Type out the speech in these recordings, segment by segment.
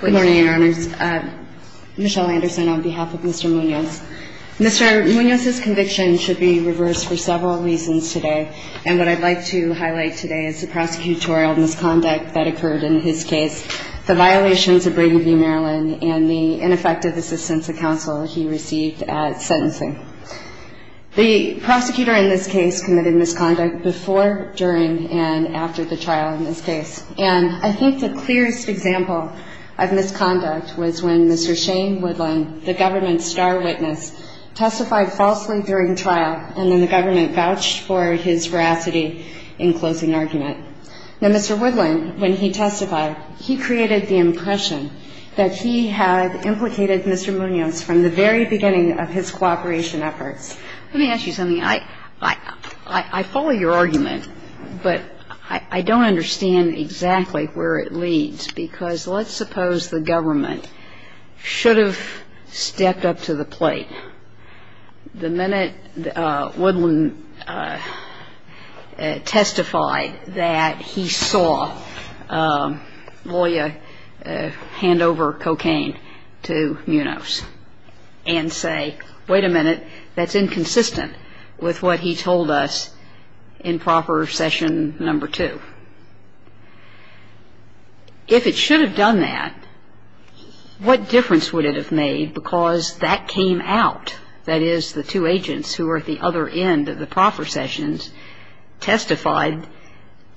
Good morning, Your Honors. Michelle Anderson on behalf of Mr. Munoz. Mr. Munoz's conviction should be reversed for several reasons today, and what I'd like to highlight today is the prosecutorial misconduct that occurred in his case, the violations of Brady v. Maryland, and the ineffective assistance of counsel he received at sentencing. The prosecutor in this case committed misconduct before, during, and after the trial in this case, and I think the clearest example of this is misconduct was when Mr. Shane Woodland, the government's star witness, testified falsely during trial, and then the government vouched for his veracity in closing argument. Now, Mr. Woodland, when he testified, he created the impression that he had implicated Mr. Munoz from the very beginning of his cooperation efforts. Let me ask you something. I follow your argument, but I don't understand exactly where it leads, because let's suppose the government should have stepped up to the plate. The minute Woodland testified that he saw Loya hand over cocaine to Munoz and say, wait a minute, that's inconsistent with what he told us in proper session number two. If it should have done that, what difference would it have made, because that came out, that is, the two agents who were at the other end of the proper sessions, testified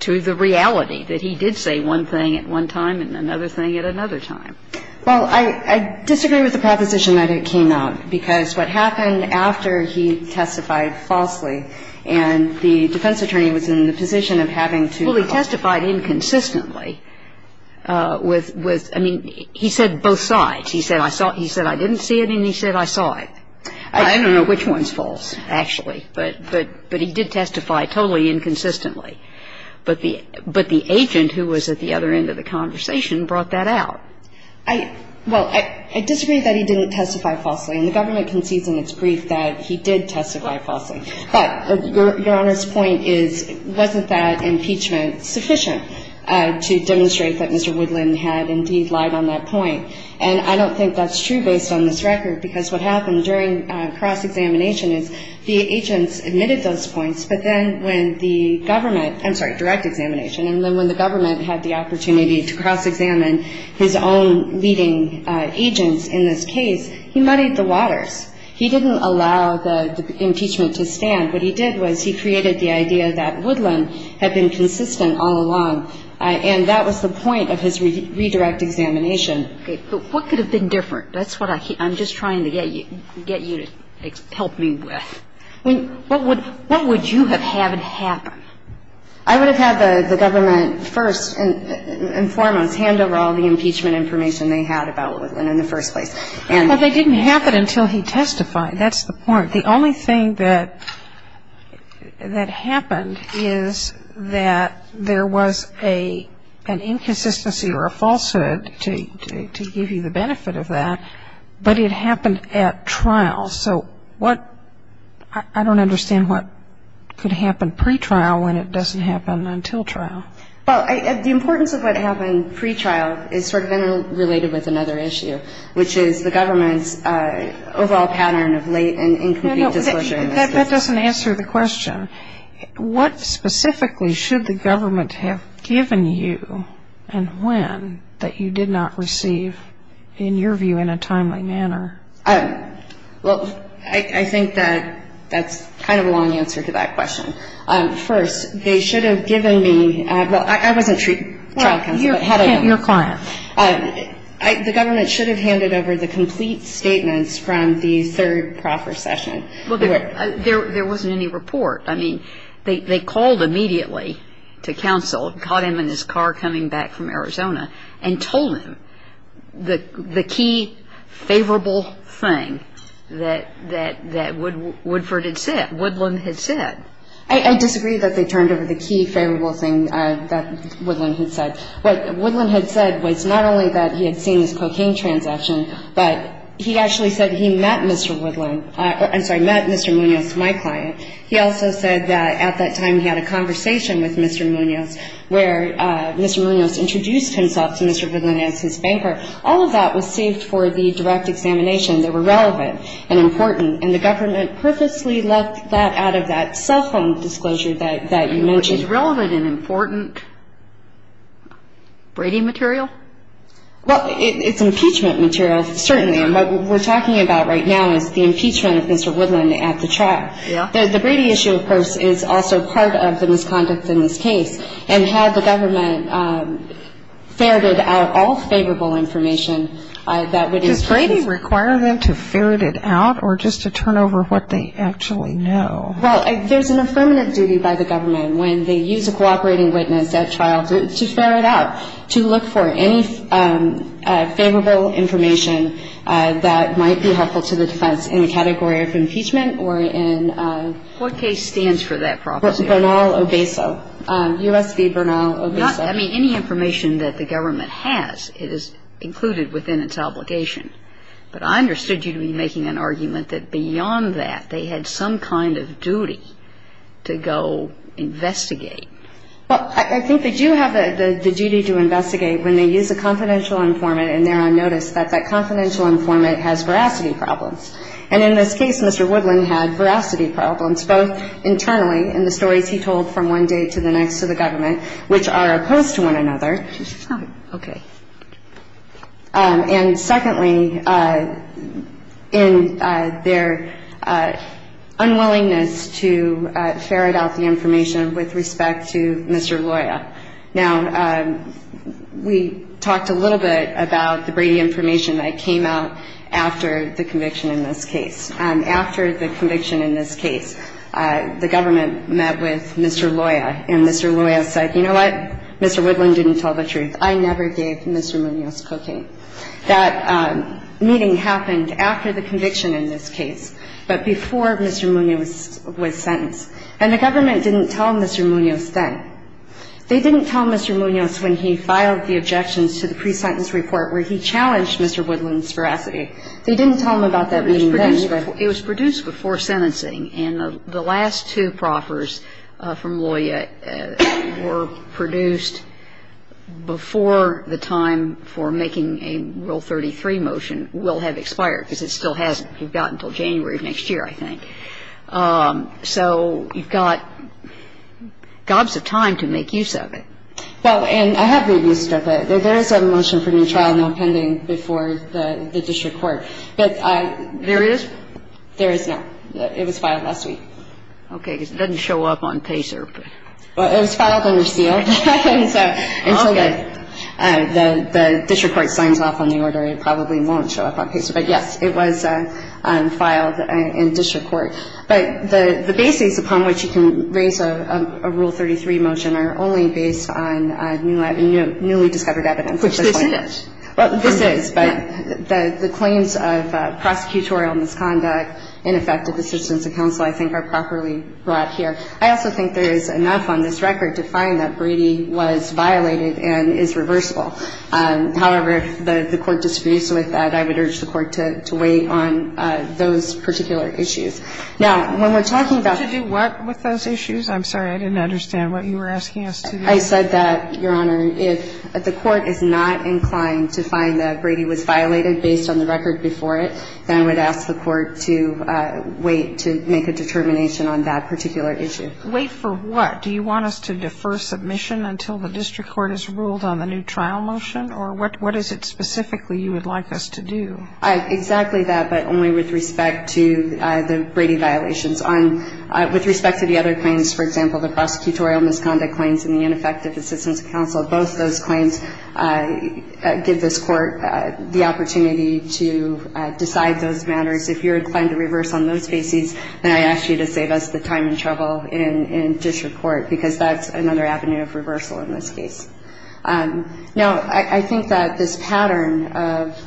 to the reality that he did say one thing at one time and another thing at another time? Well, I disagree with the proposition that it came out, because what happened after he testified falsely, and the defense attorney was in the position of having to help. Well, he testified inconsistently with, I mean, he said both sides. He said I saw it. He said I didn't see it, and he said I saw it. I don't know which one's false, actually, but he did testify totally inconsistently. But the agent who was at the other end of the conversation brought that out. Well, I disagree that he didn't testify falsely, and the government concedes in its brief that he did testify falsely. But Your Honor's point is, wasn't that impeachment sufficient to demonstrate that Mr. Woodland had indeed lied on that point? And I don't think that's true based on this record, because what happened during cross-examination is the agents admitted those points, but then when the government, I'm sorry, direct examination, and then when the government had the opportunity to cross-examine his own leading agents in this case, he muddied the waters. He didn't allow the impeachment to stand. What he did was he created the idea that Woodland had been consistent all along, and that was the point of his redirect examination. Okay, but what could have been different? That's what I'm just trying to get you to help me with. I mean, what would you have had happen? I would have had the government first and foremost hand over all the impeachment information they had about Woodland in the first place. Well, they didn't happen until he testified. That's the point. The only thing that happened is that there was an inconsistency or a falsehood to give you the benefit of that, but it happened at trial. So I don't understand what could happen pretrial when it doesn't happen until trial. Well, the importance of what happened pretrial is sort of interrelated with another issue, which is the government's overall pattern of late and incomplete disclosure in this case. That doesn't answer the question. What specifically should the government have given you and when that you did not receive, in your view, in a timely manner? Well, I think that that's kind of a long answer to that question. First, they should have given me – well, I wasn't a trial counsel. You're a client. The government should have handed over the complete statements from the third procession. Well, there wasn't any report. I mean, they called immediately to counsel, caught him in his car coming back from Arizona, and told him the key favorable thing that Woodford had said, Woodland had said. I disagree that they turned over the key favorable thing that Woodland had said. What Woodland had said was not only that he had seen this cocaine transaction, but he actually said he met Mr. Woodland – I'm sorry, met Mr. Munoz, my client. He also said that at that time he had a conversation with Mr. Munoz, where Mr. Munoz introduced himself to Mr. Woodland as his banker. All of that was saved for the direct examination. They were relevant and important. And the government purposely left that out of that cell phone disclosure that you mentioned. Is relevant and important Brady material? Well, it's impeachment material, certainly. And what we're talking about right now is the impeachment of Mr. Woodland at the trial. Yeah. The Brady issue, of course, is also part of the misconduct in this case. And had the government ferreted out all favorable information, that would have been – Does Brady require them to ferret it out or just to turn over what they actually know? Well, there's an affirmative duty by the government when they use a cooperating witness at trial to ferret out, to look for any favorable information that might be helpful to the defense in the category of impeachment or in – What case stands for that property? Bernal Obeso. U.S. v. Bernal Obeso. I mean, any information that the government has, it is included within its obligation. But I understood you to be making an argument that beyond that, they had some kind of duty to go investigate. Well, I think they do have the duty to investigate when they use a confidential informant and they're on notice that that confidential informant has veracity problems. And in this case, Mr. Woodland had veracity problems both internally in the stories he told from one day to the next to the government, which are opposed to one another. Okay. And secondly, in their unwillingness to ferret out the information with respect to Mr. Loya. Now, we talked a little bit about the Brady information that came out after the conviction in this case. After the conviction in this case, the government met with Mr. Loya. And Mr. Loya said, you know what? Mr. Woodland didn't tell the truth. I never gave Mr. Munoz cocaine. That meeting happened after the conviction in this case, but before Mr. Munoz was sentenced. And the government didn't tell Mr. Munoz then. They didn't tell Mr. Munoz when he filed the objections to the pre-sentence report where he challenged Mr. Woodland's veracity. They didn't tell him about that meeting then. It was produced before sentencing. And the last two proffers from Loya were produced before the time for making a Rule 33 motion will have expired, because it still hasn't. So you've got gobs of time to make use of it. Well, and I have made use of it. There is a motion for new trial now pending before the district court. But I – There is? There is not. It was filed last week. Okay. Because it doesn't show up on PACER. Well, it was filed under SEAL. And so the district court signs off on the order. It probably won't show up on PACER. But, yes, it was filed in district court. But the basis upon which you can raise a Rule 33 motion are only based on newly discovered evidence. Which this isn't. Well, this is. But the claims of prosecutorial misconduct, ineffective assistance of counsel, I think, are properly brought here. I also think there is enough on this record to find that Brady was violated and is reversible. However, if the Court disagrees with that, I would urge the Court to wait on those particular issues. Now, when we're talking about – To do what with those issues? I'm sorry. I didn't understand what you were asking us to do. I said that, Your Honor, if the Court is not inclined to find that Brady was violated based on the record before it, then I would ask the Court to wait to make a determination on that particular issue. Wait for what? Do you want us to defer submission until the district court has ruled on the new trial motion? Or what is it specifically you would like us to do? Exactly that, but only with respect to the Brady violations. With respect to the other claims, for example, the prosecutorial misconduct claims and the ineffective assistance of counsel, both those claims give this Court the opportunity to decide those matters. If you're inclined to reverse on those bases, then I ask you to save us the time and trouble in district court because that's another avenue of reversal in this case. Now, I think that this pattern of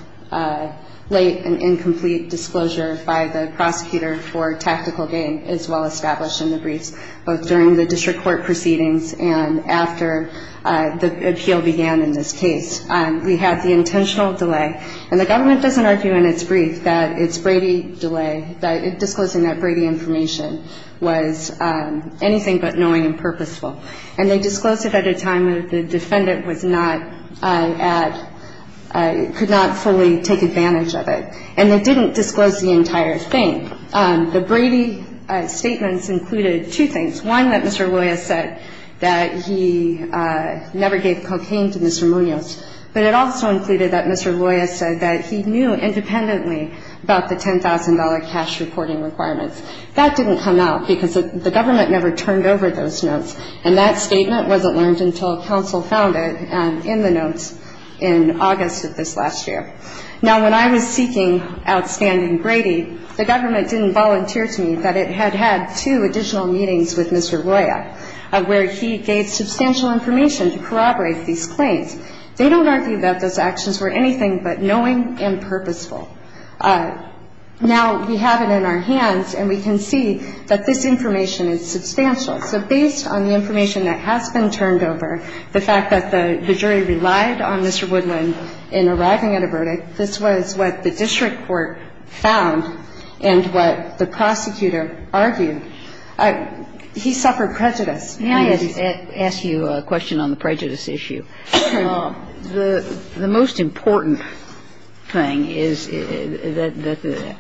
late and incomplete disclosure by the prosecutor for tactical gain is well established in the briefs, both during the district court proceedings and after the appeal began in this case. We had the intentional delay, and the government doesn't argue in its brief that it's Brady delay, that disclosing that Brady information was anything but knowing and purposeful. And they disclosed it at a time when the defendant was not at – could not fully take advantage of it. And they didn't disclose the entire thing. The Brady statements included two things. One, that Mr. Loya said that he never gave cocaine to Mr. Munoz. But it also included that Mr. Loya said that he knew independently about the $10,000 cash reporting requirements. That didn't come out because the government never turned over those notes. And that statement wasn't learned until counsel found it in the notes in August of this last year. Now, when I was seeking outstanding Brady, the government didn't volunteer to me that it had had two additional meetings with Mr. Loya where he gave substantial information to corroborate these claims. They don't argue that those actions were anything but knowing and purposeful. Now, we have it in our hands, and we can see that this information is substantial. So based on the information that has been turned over, the fact that the jury relied on Mr. Woodland in arriving at a verdict, this was what the district court found and what the prosecutor argued. He suffered prejudice. Kagan. Can I ask you a question on the prejudice issue? The most important thing is that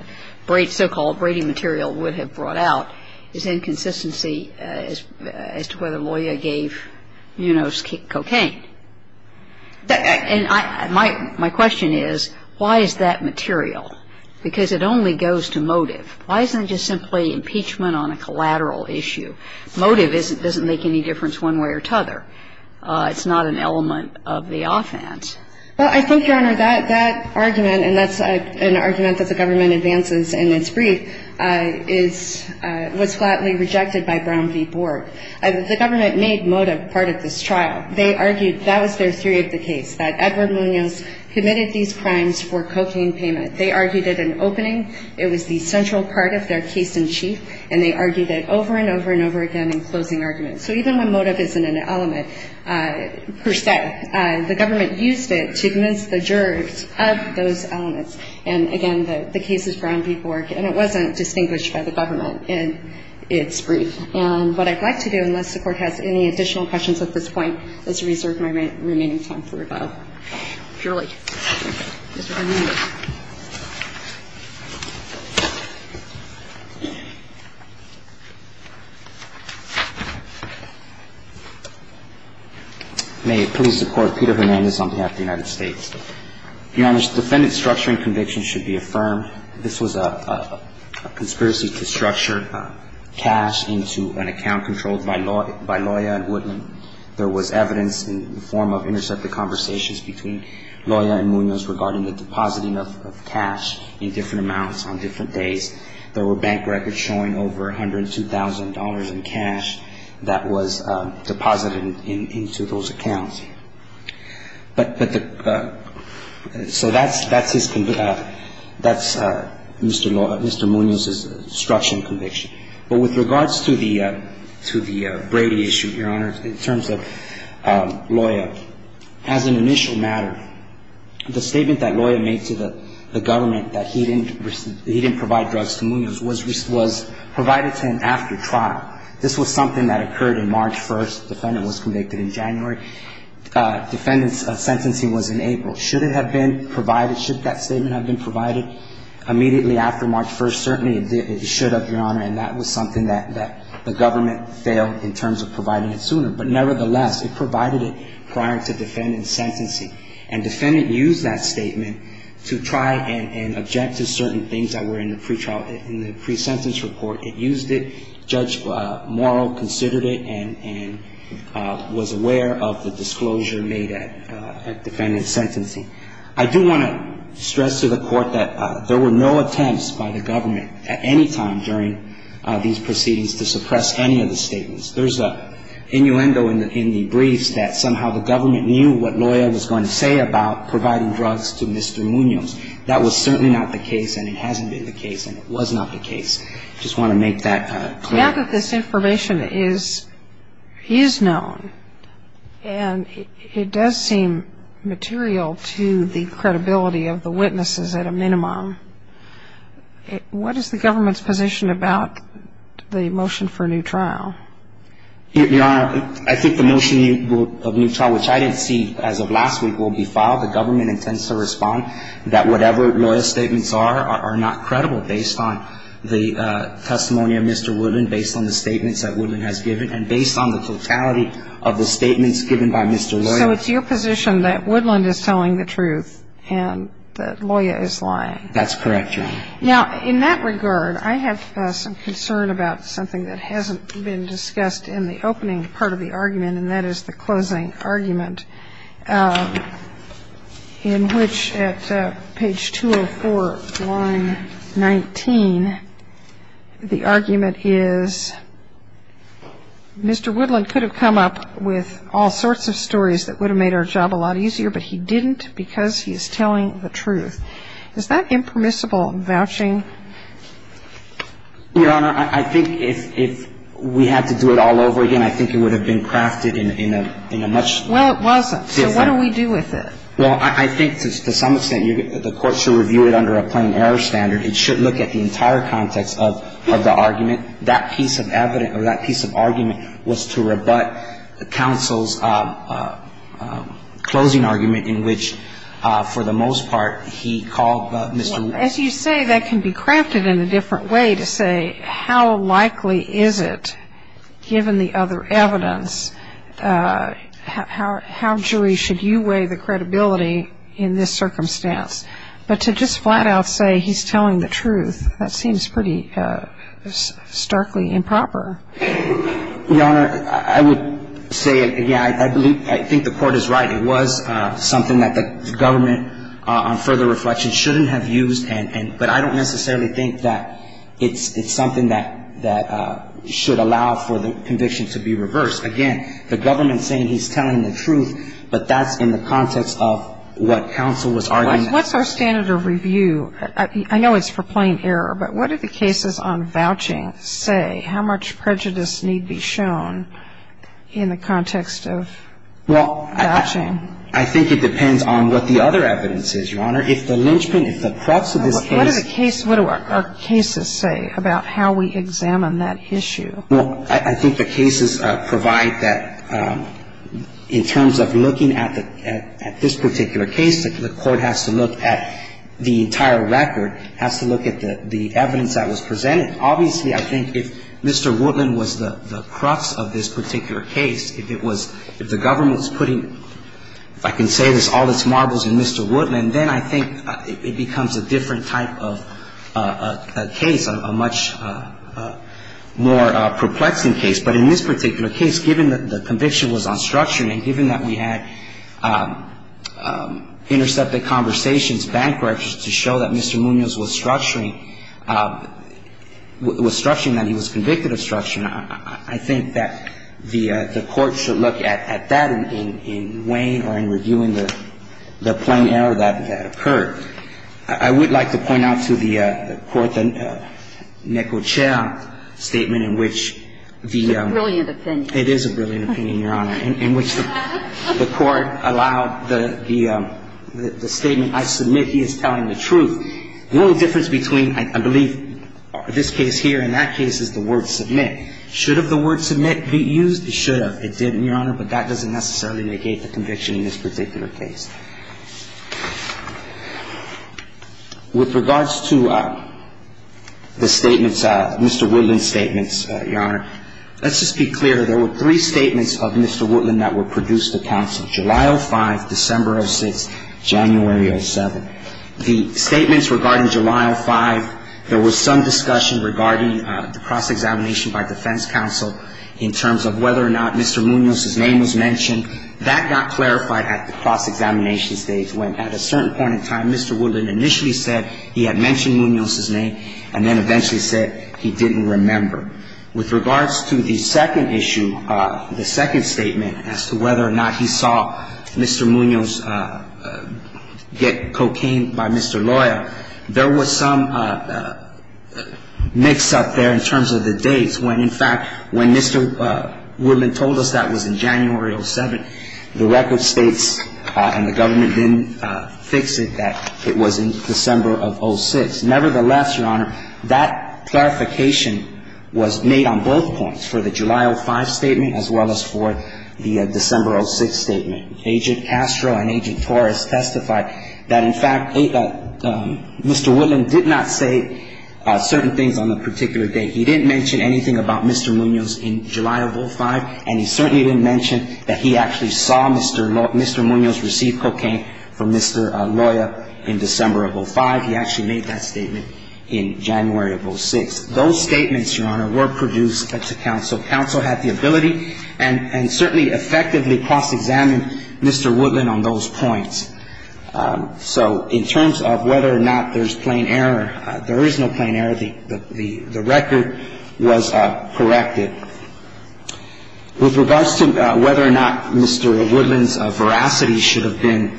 the so-called Brady material would have brought out is inconsistency as to whether Loya gave Munoz cocaine. And my question is, why is that material? Because it only goes to motive. Why isn't it just simply impeachment on a collateral issue? Motive doesn't make any difference one way or the other. It's not an element of the offense. Well, I think, Your Honor, that argument, and that's an argument that the government advances in its brief, was flatly rejected by Brown v. Borg. The government made motive part of this trial. They argued that was their theory of the case, that Edward Munoz committed these crimes for cocaine payment. They argued it an opening. It was the central part of their case in chief. And they argued it over and over and over again in closing arguments. So even when motive isn't an element per se, the government used it to convince the jurors of those elements. And, again, the case is Brown v. Borg, and it wasn't distinguished by the government in its brief. And what I'd like to do, unless the Court has any additional questions at this point, is reserve my remaining time for rebuttal. May it please the Court. Peter Hernandez on behalf of the United States. Your Honor, defendant's structuring conviction should be affirmed. This was a conspiracy to structure cash into an account controlled by lawyer and Woodman. There was evidence in the form of intercepted conversations, between Loya and Munoz regarding the depositing of cash in different amounts on different days. There were bank records showing over $102,000 in cash that was deposited into those accounts. But the – so that's his – that's Mr. Munoz's structuring conviction. But with regards to the Brady issue, Your Honor, in terms of Loya, as an initial matter, the statement that Loya made to the government that he didn't provide drugs to Munoz was provided to him after trial. This was something that occurred in March 1st. The defendant was convicted in January. Defendant's sentencing was in April. Should it have been provided – should that statement have been provided immediately after March 1st? Certainly it should have, Your Honor, and that was something that the government failed in terms of providing it sooner. But nevertheless, it provided it prior to defendant's sentencing. And defendant used that statement to try and object to certain things that were in the pretrial – in the presentence report. It used it. Judge Morrow considered it and was aware of the disclosure made at defendant's sentencing. I do want to stress to the Court that there were no attempts by the government at any time during these proceedings to suppress any of the statements. There's a innuendo in the briefs that somehow the government knew what Loya was going to say about providing drugs to Mr. Munoz. That was certainly not the case, and it hasn't been the case, and it was not the case. I just want to make that clear. Now that this information is known and it does seem material to the credibility of the witnesses at a minimum, what is the government's position about the motion for a new trial? Your Honor, I think the motion of a new trial, which I didn't see as of last week, will be filed. The government intends to respond that whatever Loya's statements are are not credible based on the testimony of Mr. Woodland, based on the statements that Woodland has given, and based on the totality of the statements given by Mr. Loya. So it's your position that Woodland is telling the truth and that Loya is lying? That's correct, Your Honor. Now, in that regard, I have some concern about something that hasn't been discussed in the opening part of the argument, and that is the closing argument, in which at page 204, line 19, the argument is Mr. Woodland could have come up with all sorts of stories that would have made our job a lot easier, but he didn't because he's telling the truth. Is that impermissible in vouching? Your Honor, I think if we had to do it all over again, I think it would have been crafted in a much different way. Well, it wasn't. So what do we do with it? Well, I think to some extent, the Court should review it under a plain error standard. It should look at the entire context of the argument. That piece of evidence or that piece of argument was to rebut counsel's closing argument in which, for the most part, he called Mr. Woodland. As you say, that can be crafted in a different way to say how likely is it, given the other evidence, how, Julie, should you weigh the credibility in this circumstance? But to just flat-out say he's telling the truth, that seems pretty starkly improper. Your Honor, I would say, yeah, I believe the Court is right. It was something that the government, on further reflection, shouldn't have used. But I don't necessarily think that it's something that should allow for the conviction to be reversed. Again, the government saying he's telling the truth, but that's in the context of what counsel was arguing. What's our standard of review? I know it's for plain error, but what do the cases on vouching say? How much prejudice need be shown in the context of vouching? Well, I think it depends on what the other evidence is, Your Honor. If the linchpin, if the crux of this case — What do the case — what do our cases say about how we examine that issue? Well, I think the cases provide that, in terms of looking at this particular case, the Court has to look at the entire record, has to look at the evidence that was presented. Obviously, I think if Mr. Woodland was the crux of this particular case, if it was — if the government was putting, if I can say this, all its marbles in Mr. Woodland, then I think it becomes a different type of case, a much more perplexing case. But in this particular case, given that the conviction was unstructured and given that we had intercepted conversations, given that Mr. Woodland's bank records to show that Mr. Munoz was structuring — was structuring that he was convicted of structuring, I think that the Court should look at that in way or in reviewing the plain error that occurred. I would like to point out to the Court the Necochea statement in which the — It's a brilliant opinion. It is a brilliant opinion, Your Honor. In which the Court allowed the statement, I submit he is telling the truth. The only difference between, I believe, this case here and that case is the word submit. Should have the word submit be used? It should have. It didn't, Your Honor, but that doesn't necessarily negate the conviction in this particular case. With regards to the statements, Mr. Woodland's statements, Your Honor, let's just be clear. There were three statements of Mr. Woodland that were produced to counsel, July 05, December 06, January 07. The statements regarding July 05, there was some discussion regarding the cross-examination by defense counsel in terms of whether or not Mr. Munoz's name was mentioned. That got clarified at the cross-examination stage when, at a certain point in time, Mr. Woodland initially said he had mentioned Munoz's name and then eventually said he didn't remember. With regards to the second issue, the second statement as to whether or not he saw Mr. Munoz get cocaine by Mr. Loya, there was some mix-up there in terms of the dates when, in fact, when Mr. Woodland told us that was in January 07, the record states and the government didn't fix it that it was in December of 06. Nevertheless, Your Honor, that clarification was made on both points, for the July 05 statement as well as for the December 06 statement. Agent Castro and Agent Torres testified that, in fact, Mr. Woodland did not say certain things on a particular date. He didn't mention anything about Mr. Munoz in July of 05, and he certainly didn't mention that he actually saw Mr. Munoz receive cocaine from Mr. Loya in December of 05. He actually made that statement in January of 06. Those statements, Your Honor, were produced to counsel. Counsel had the ability and certainly effectively cross-examined Mr. Woodland on those points. So in terms of whether or not there's plain error, there is no plain error. The record was corrected. With regards to whether or not Mr. Woodland's veracity should have been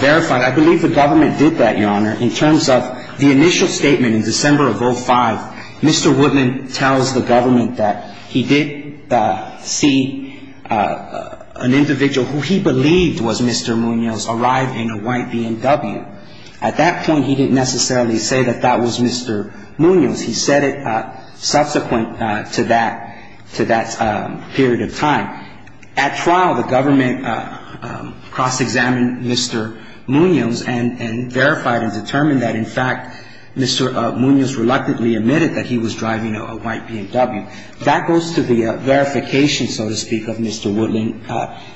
verified, I believe the government did that, Your Honor. In terms of the initial statement in December of 05, Mr. Woodland tells the government that he did see an individual who he believed was Mr. Munoz arrive in a white BMW. At that point, he didn't necessarily say that that was Mr. Munoz. He said it subsequent to that period of time. Now, at trial, the government cross-examined Mr. Munoz and verified and determined that, in fact, Mr. Munoz reluctantly admitted that he was driving a white BMW. That goes to the verification, so to speak, of Mr. Woodland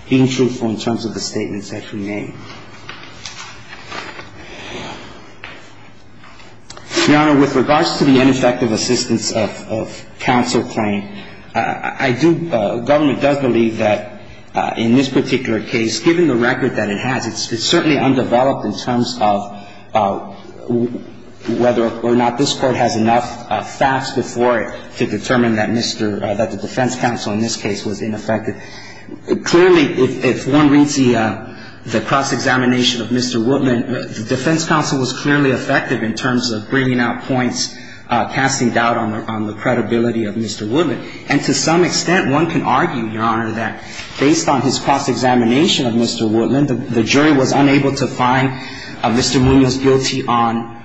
being truthful in terms of the statements that he made. Your Honor, with regards to the ineffective assistance of counsel claim, the government does believe that in this particular case, given the record that it has, it's certainly undeveloped in terms of whether or not this Court has enough facts before it to determine that the defense counsel in this case was ineffective. Clearly, if one reads the cross-examination of Mr. Woodland, the defense counsel was clearly effective in terms of bringing out points, casting doubt on the credibility of Mr. Woodland. And to some extent, one can argue, Your Honor, that based on his cross-examination of Mr. Woodland, the jury was unable to find Mr. Munoz guilty on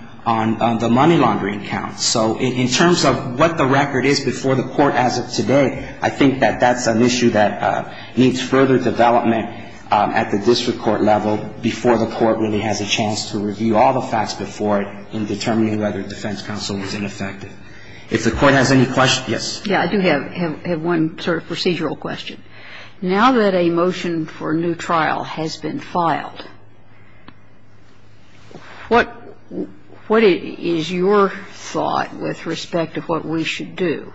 the money laundering count. So in terms of what the record is before the Court as of today, I think that that's an issue that needs further development at the district court level before the Court really has a chance to review all the facts before it can determine whether defense counsel was ineffective. If the Court has any questions. Yes. Yeah. I do have one sort of procedural question. Now that a motion for new trial has been filed, what is your thought with respect to what we should do?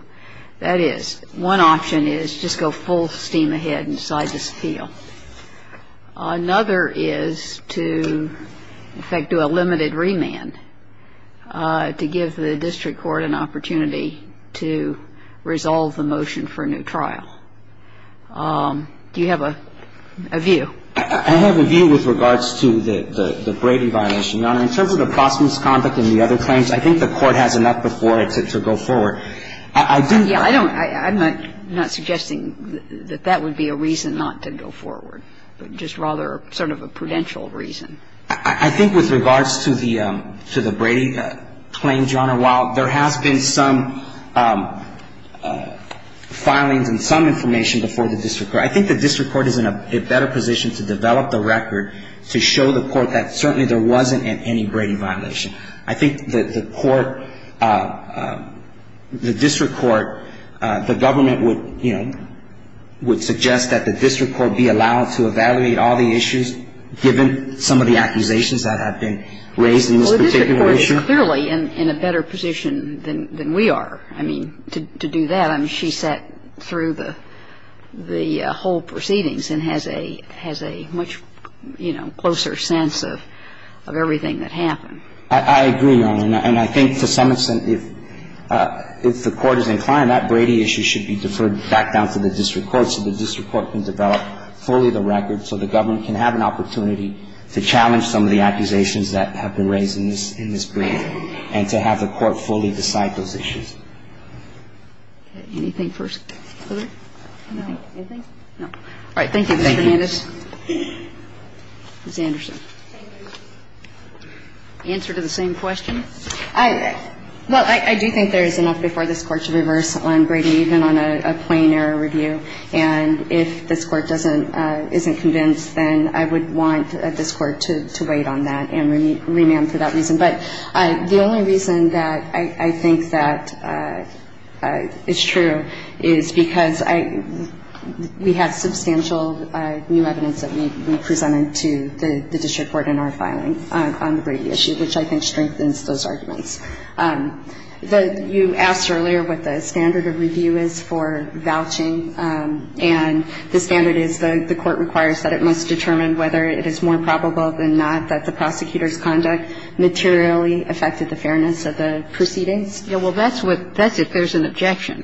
That is, one option is just go full steam ahead and decide this appeal. Another is to, in fact, do a limited remand to give the district court an opportunity to resolve the motion for a new trial. Do you have a view? I have a view with regards to the Brady violation. Your Honor, in terms of the Boston's conduct and the other claims, I think the Court has enough before it to go forward. I'm not suggesting that that would be a reason not to go forward, but just rather sort of a prudential reason. I think with regards to the Brady claim, Your Honor, while there has been some filings and some information before the district court, I think the district court is in a better position to develop the record to show the Court that certainly there wasn't any Brady violation. I think the court, the district court, the government would, you know, would suggest that the district court be allowed to evaluate all the issues, given some of the accusations that have been raised in this particular issue. Well, the district court is clearly in a better position than we are. I mean, to do that, I mean, she sat through the whole proceedings and has a much, you know, closer sense of everything that happened. I agree, Your Honor. And I think to some extent, if the Court is inclined, that Brady issue should be deferred back down to the district court so the district court can develop fully the record so the government can have an opportunity to challenge some of the accusations that have been raised in this Brady and to have the court fully decide those issues. Okay. Anything further? No. Anything? All right. Thank you, Mr. Hernandez. Ms. Anderson. Thank you. Answer to the same question? Well, I do think there is enough before this Court to reverse on Brady, even on a plain error review. And if this Court doesn't – isn't convinced, then I would want this Court to wait on that and remand for that reason. But the only reason that I think that it's true is because I – we have substantial new evidence that we presented to the district court in our filing on the Brady issue, which I think strengthens those arguments. You asked earlier what the standard of review is for vouching. And the standard is the Court requires that it must determine whether it is more probable than not that the prosecutor's conduct materially affected the fairness of the proceedings. Well, that's what – that's if there's an objection.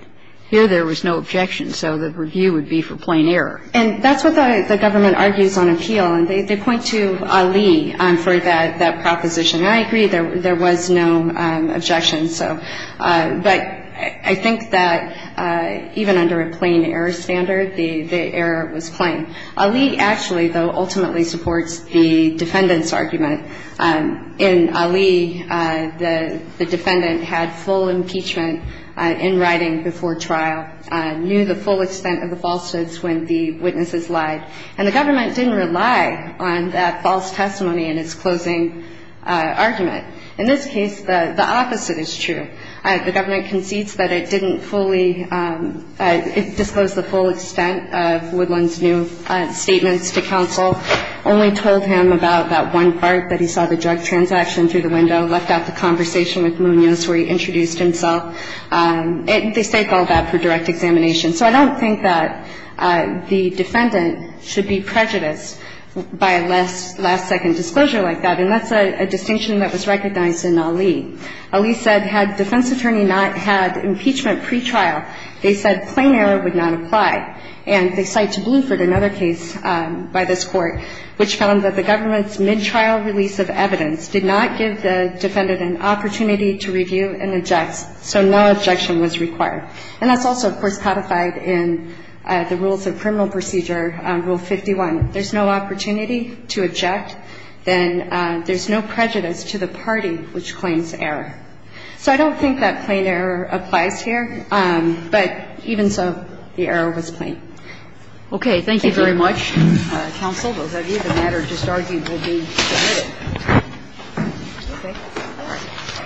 Here there was no objection, so the review would be for plain error. And that's what the government argues on appeal, and they point to Ali for that proposition. And I agree there was no objection, so – but I think that even under a plain error standard, the error was plain. Ali actually, though, ultimately supports the defendant's argument. In Ali, the defendant had full impeachment in writing before trial, knew the full extent of the falsehoods when the witnesses lied. And the government didn't rely on that false testimony in its closing argument. In this case, the opposite is true. The government concedes that it didn't fully – it disclosed the full extent of Woodland's new statements to counsel, only told him about that one part that he saw the drug transaction through the window, left out the conversation with Munoz where he introduced himself. And they state all that for direct examination. So I don't think that the defendant should be prejudiced by a last-second disclosure like that. And that's a distinction that was recognized in Ali. Ali said had defense attorney not had impeachment pretrial, they said plain error would not apply. And they cite to Bluford another case by this Court which found that the government's mid-trial release of evidence did not give the defendant an opportunity to review and object, so no objection was required. And that's also, of course, codified in the Rules of Criminal Procedure, Rule 51. There's no opportunity to object. Then there's no prejudice to the party which claims error. So I don't think that plain error applies here. But even so, the error was plain. Kagan. Thank you. Okay. Thank you very much, counsel. Both of you. The matter just argued will be submitted. Okay.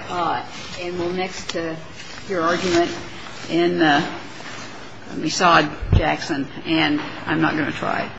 All right. And we'll mix to your argument in the Massad-Jackson, and I'm not going to try.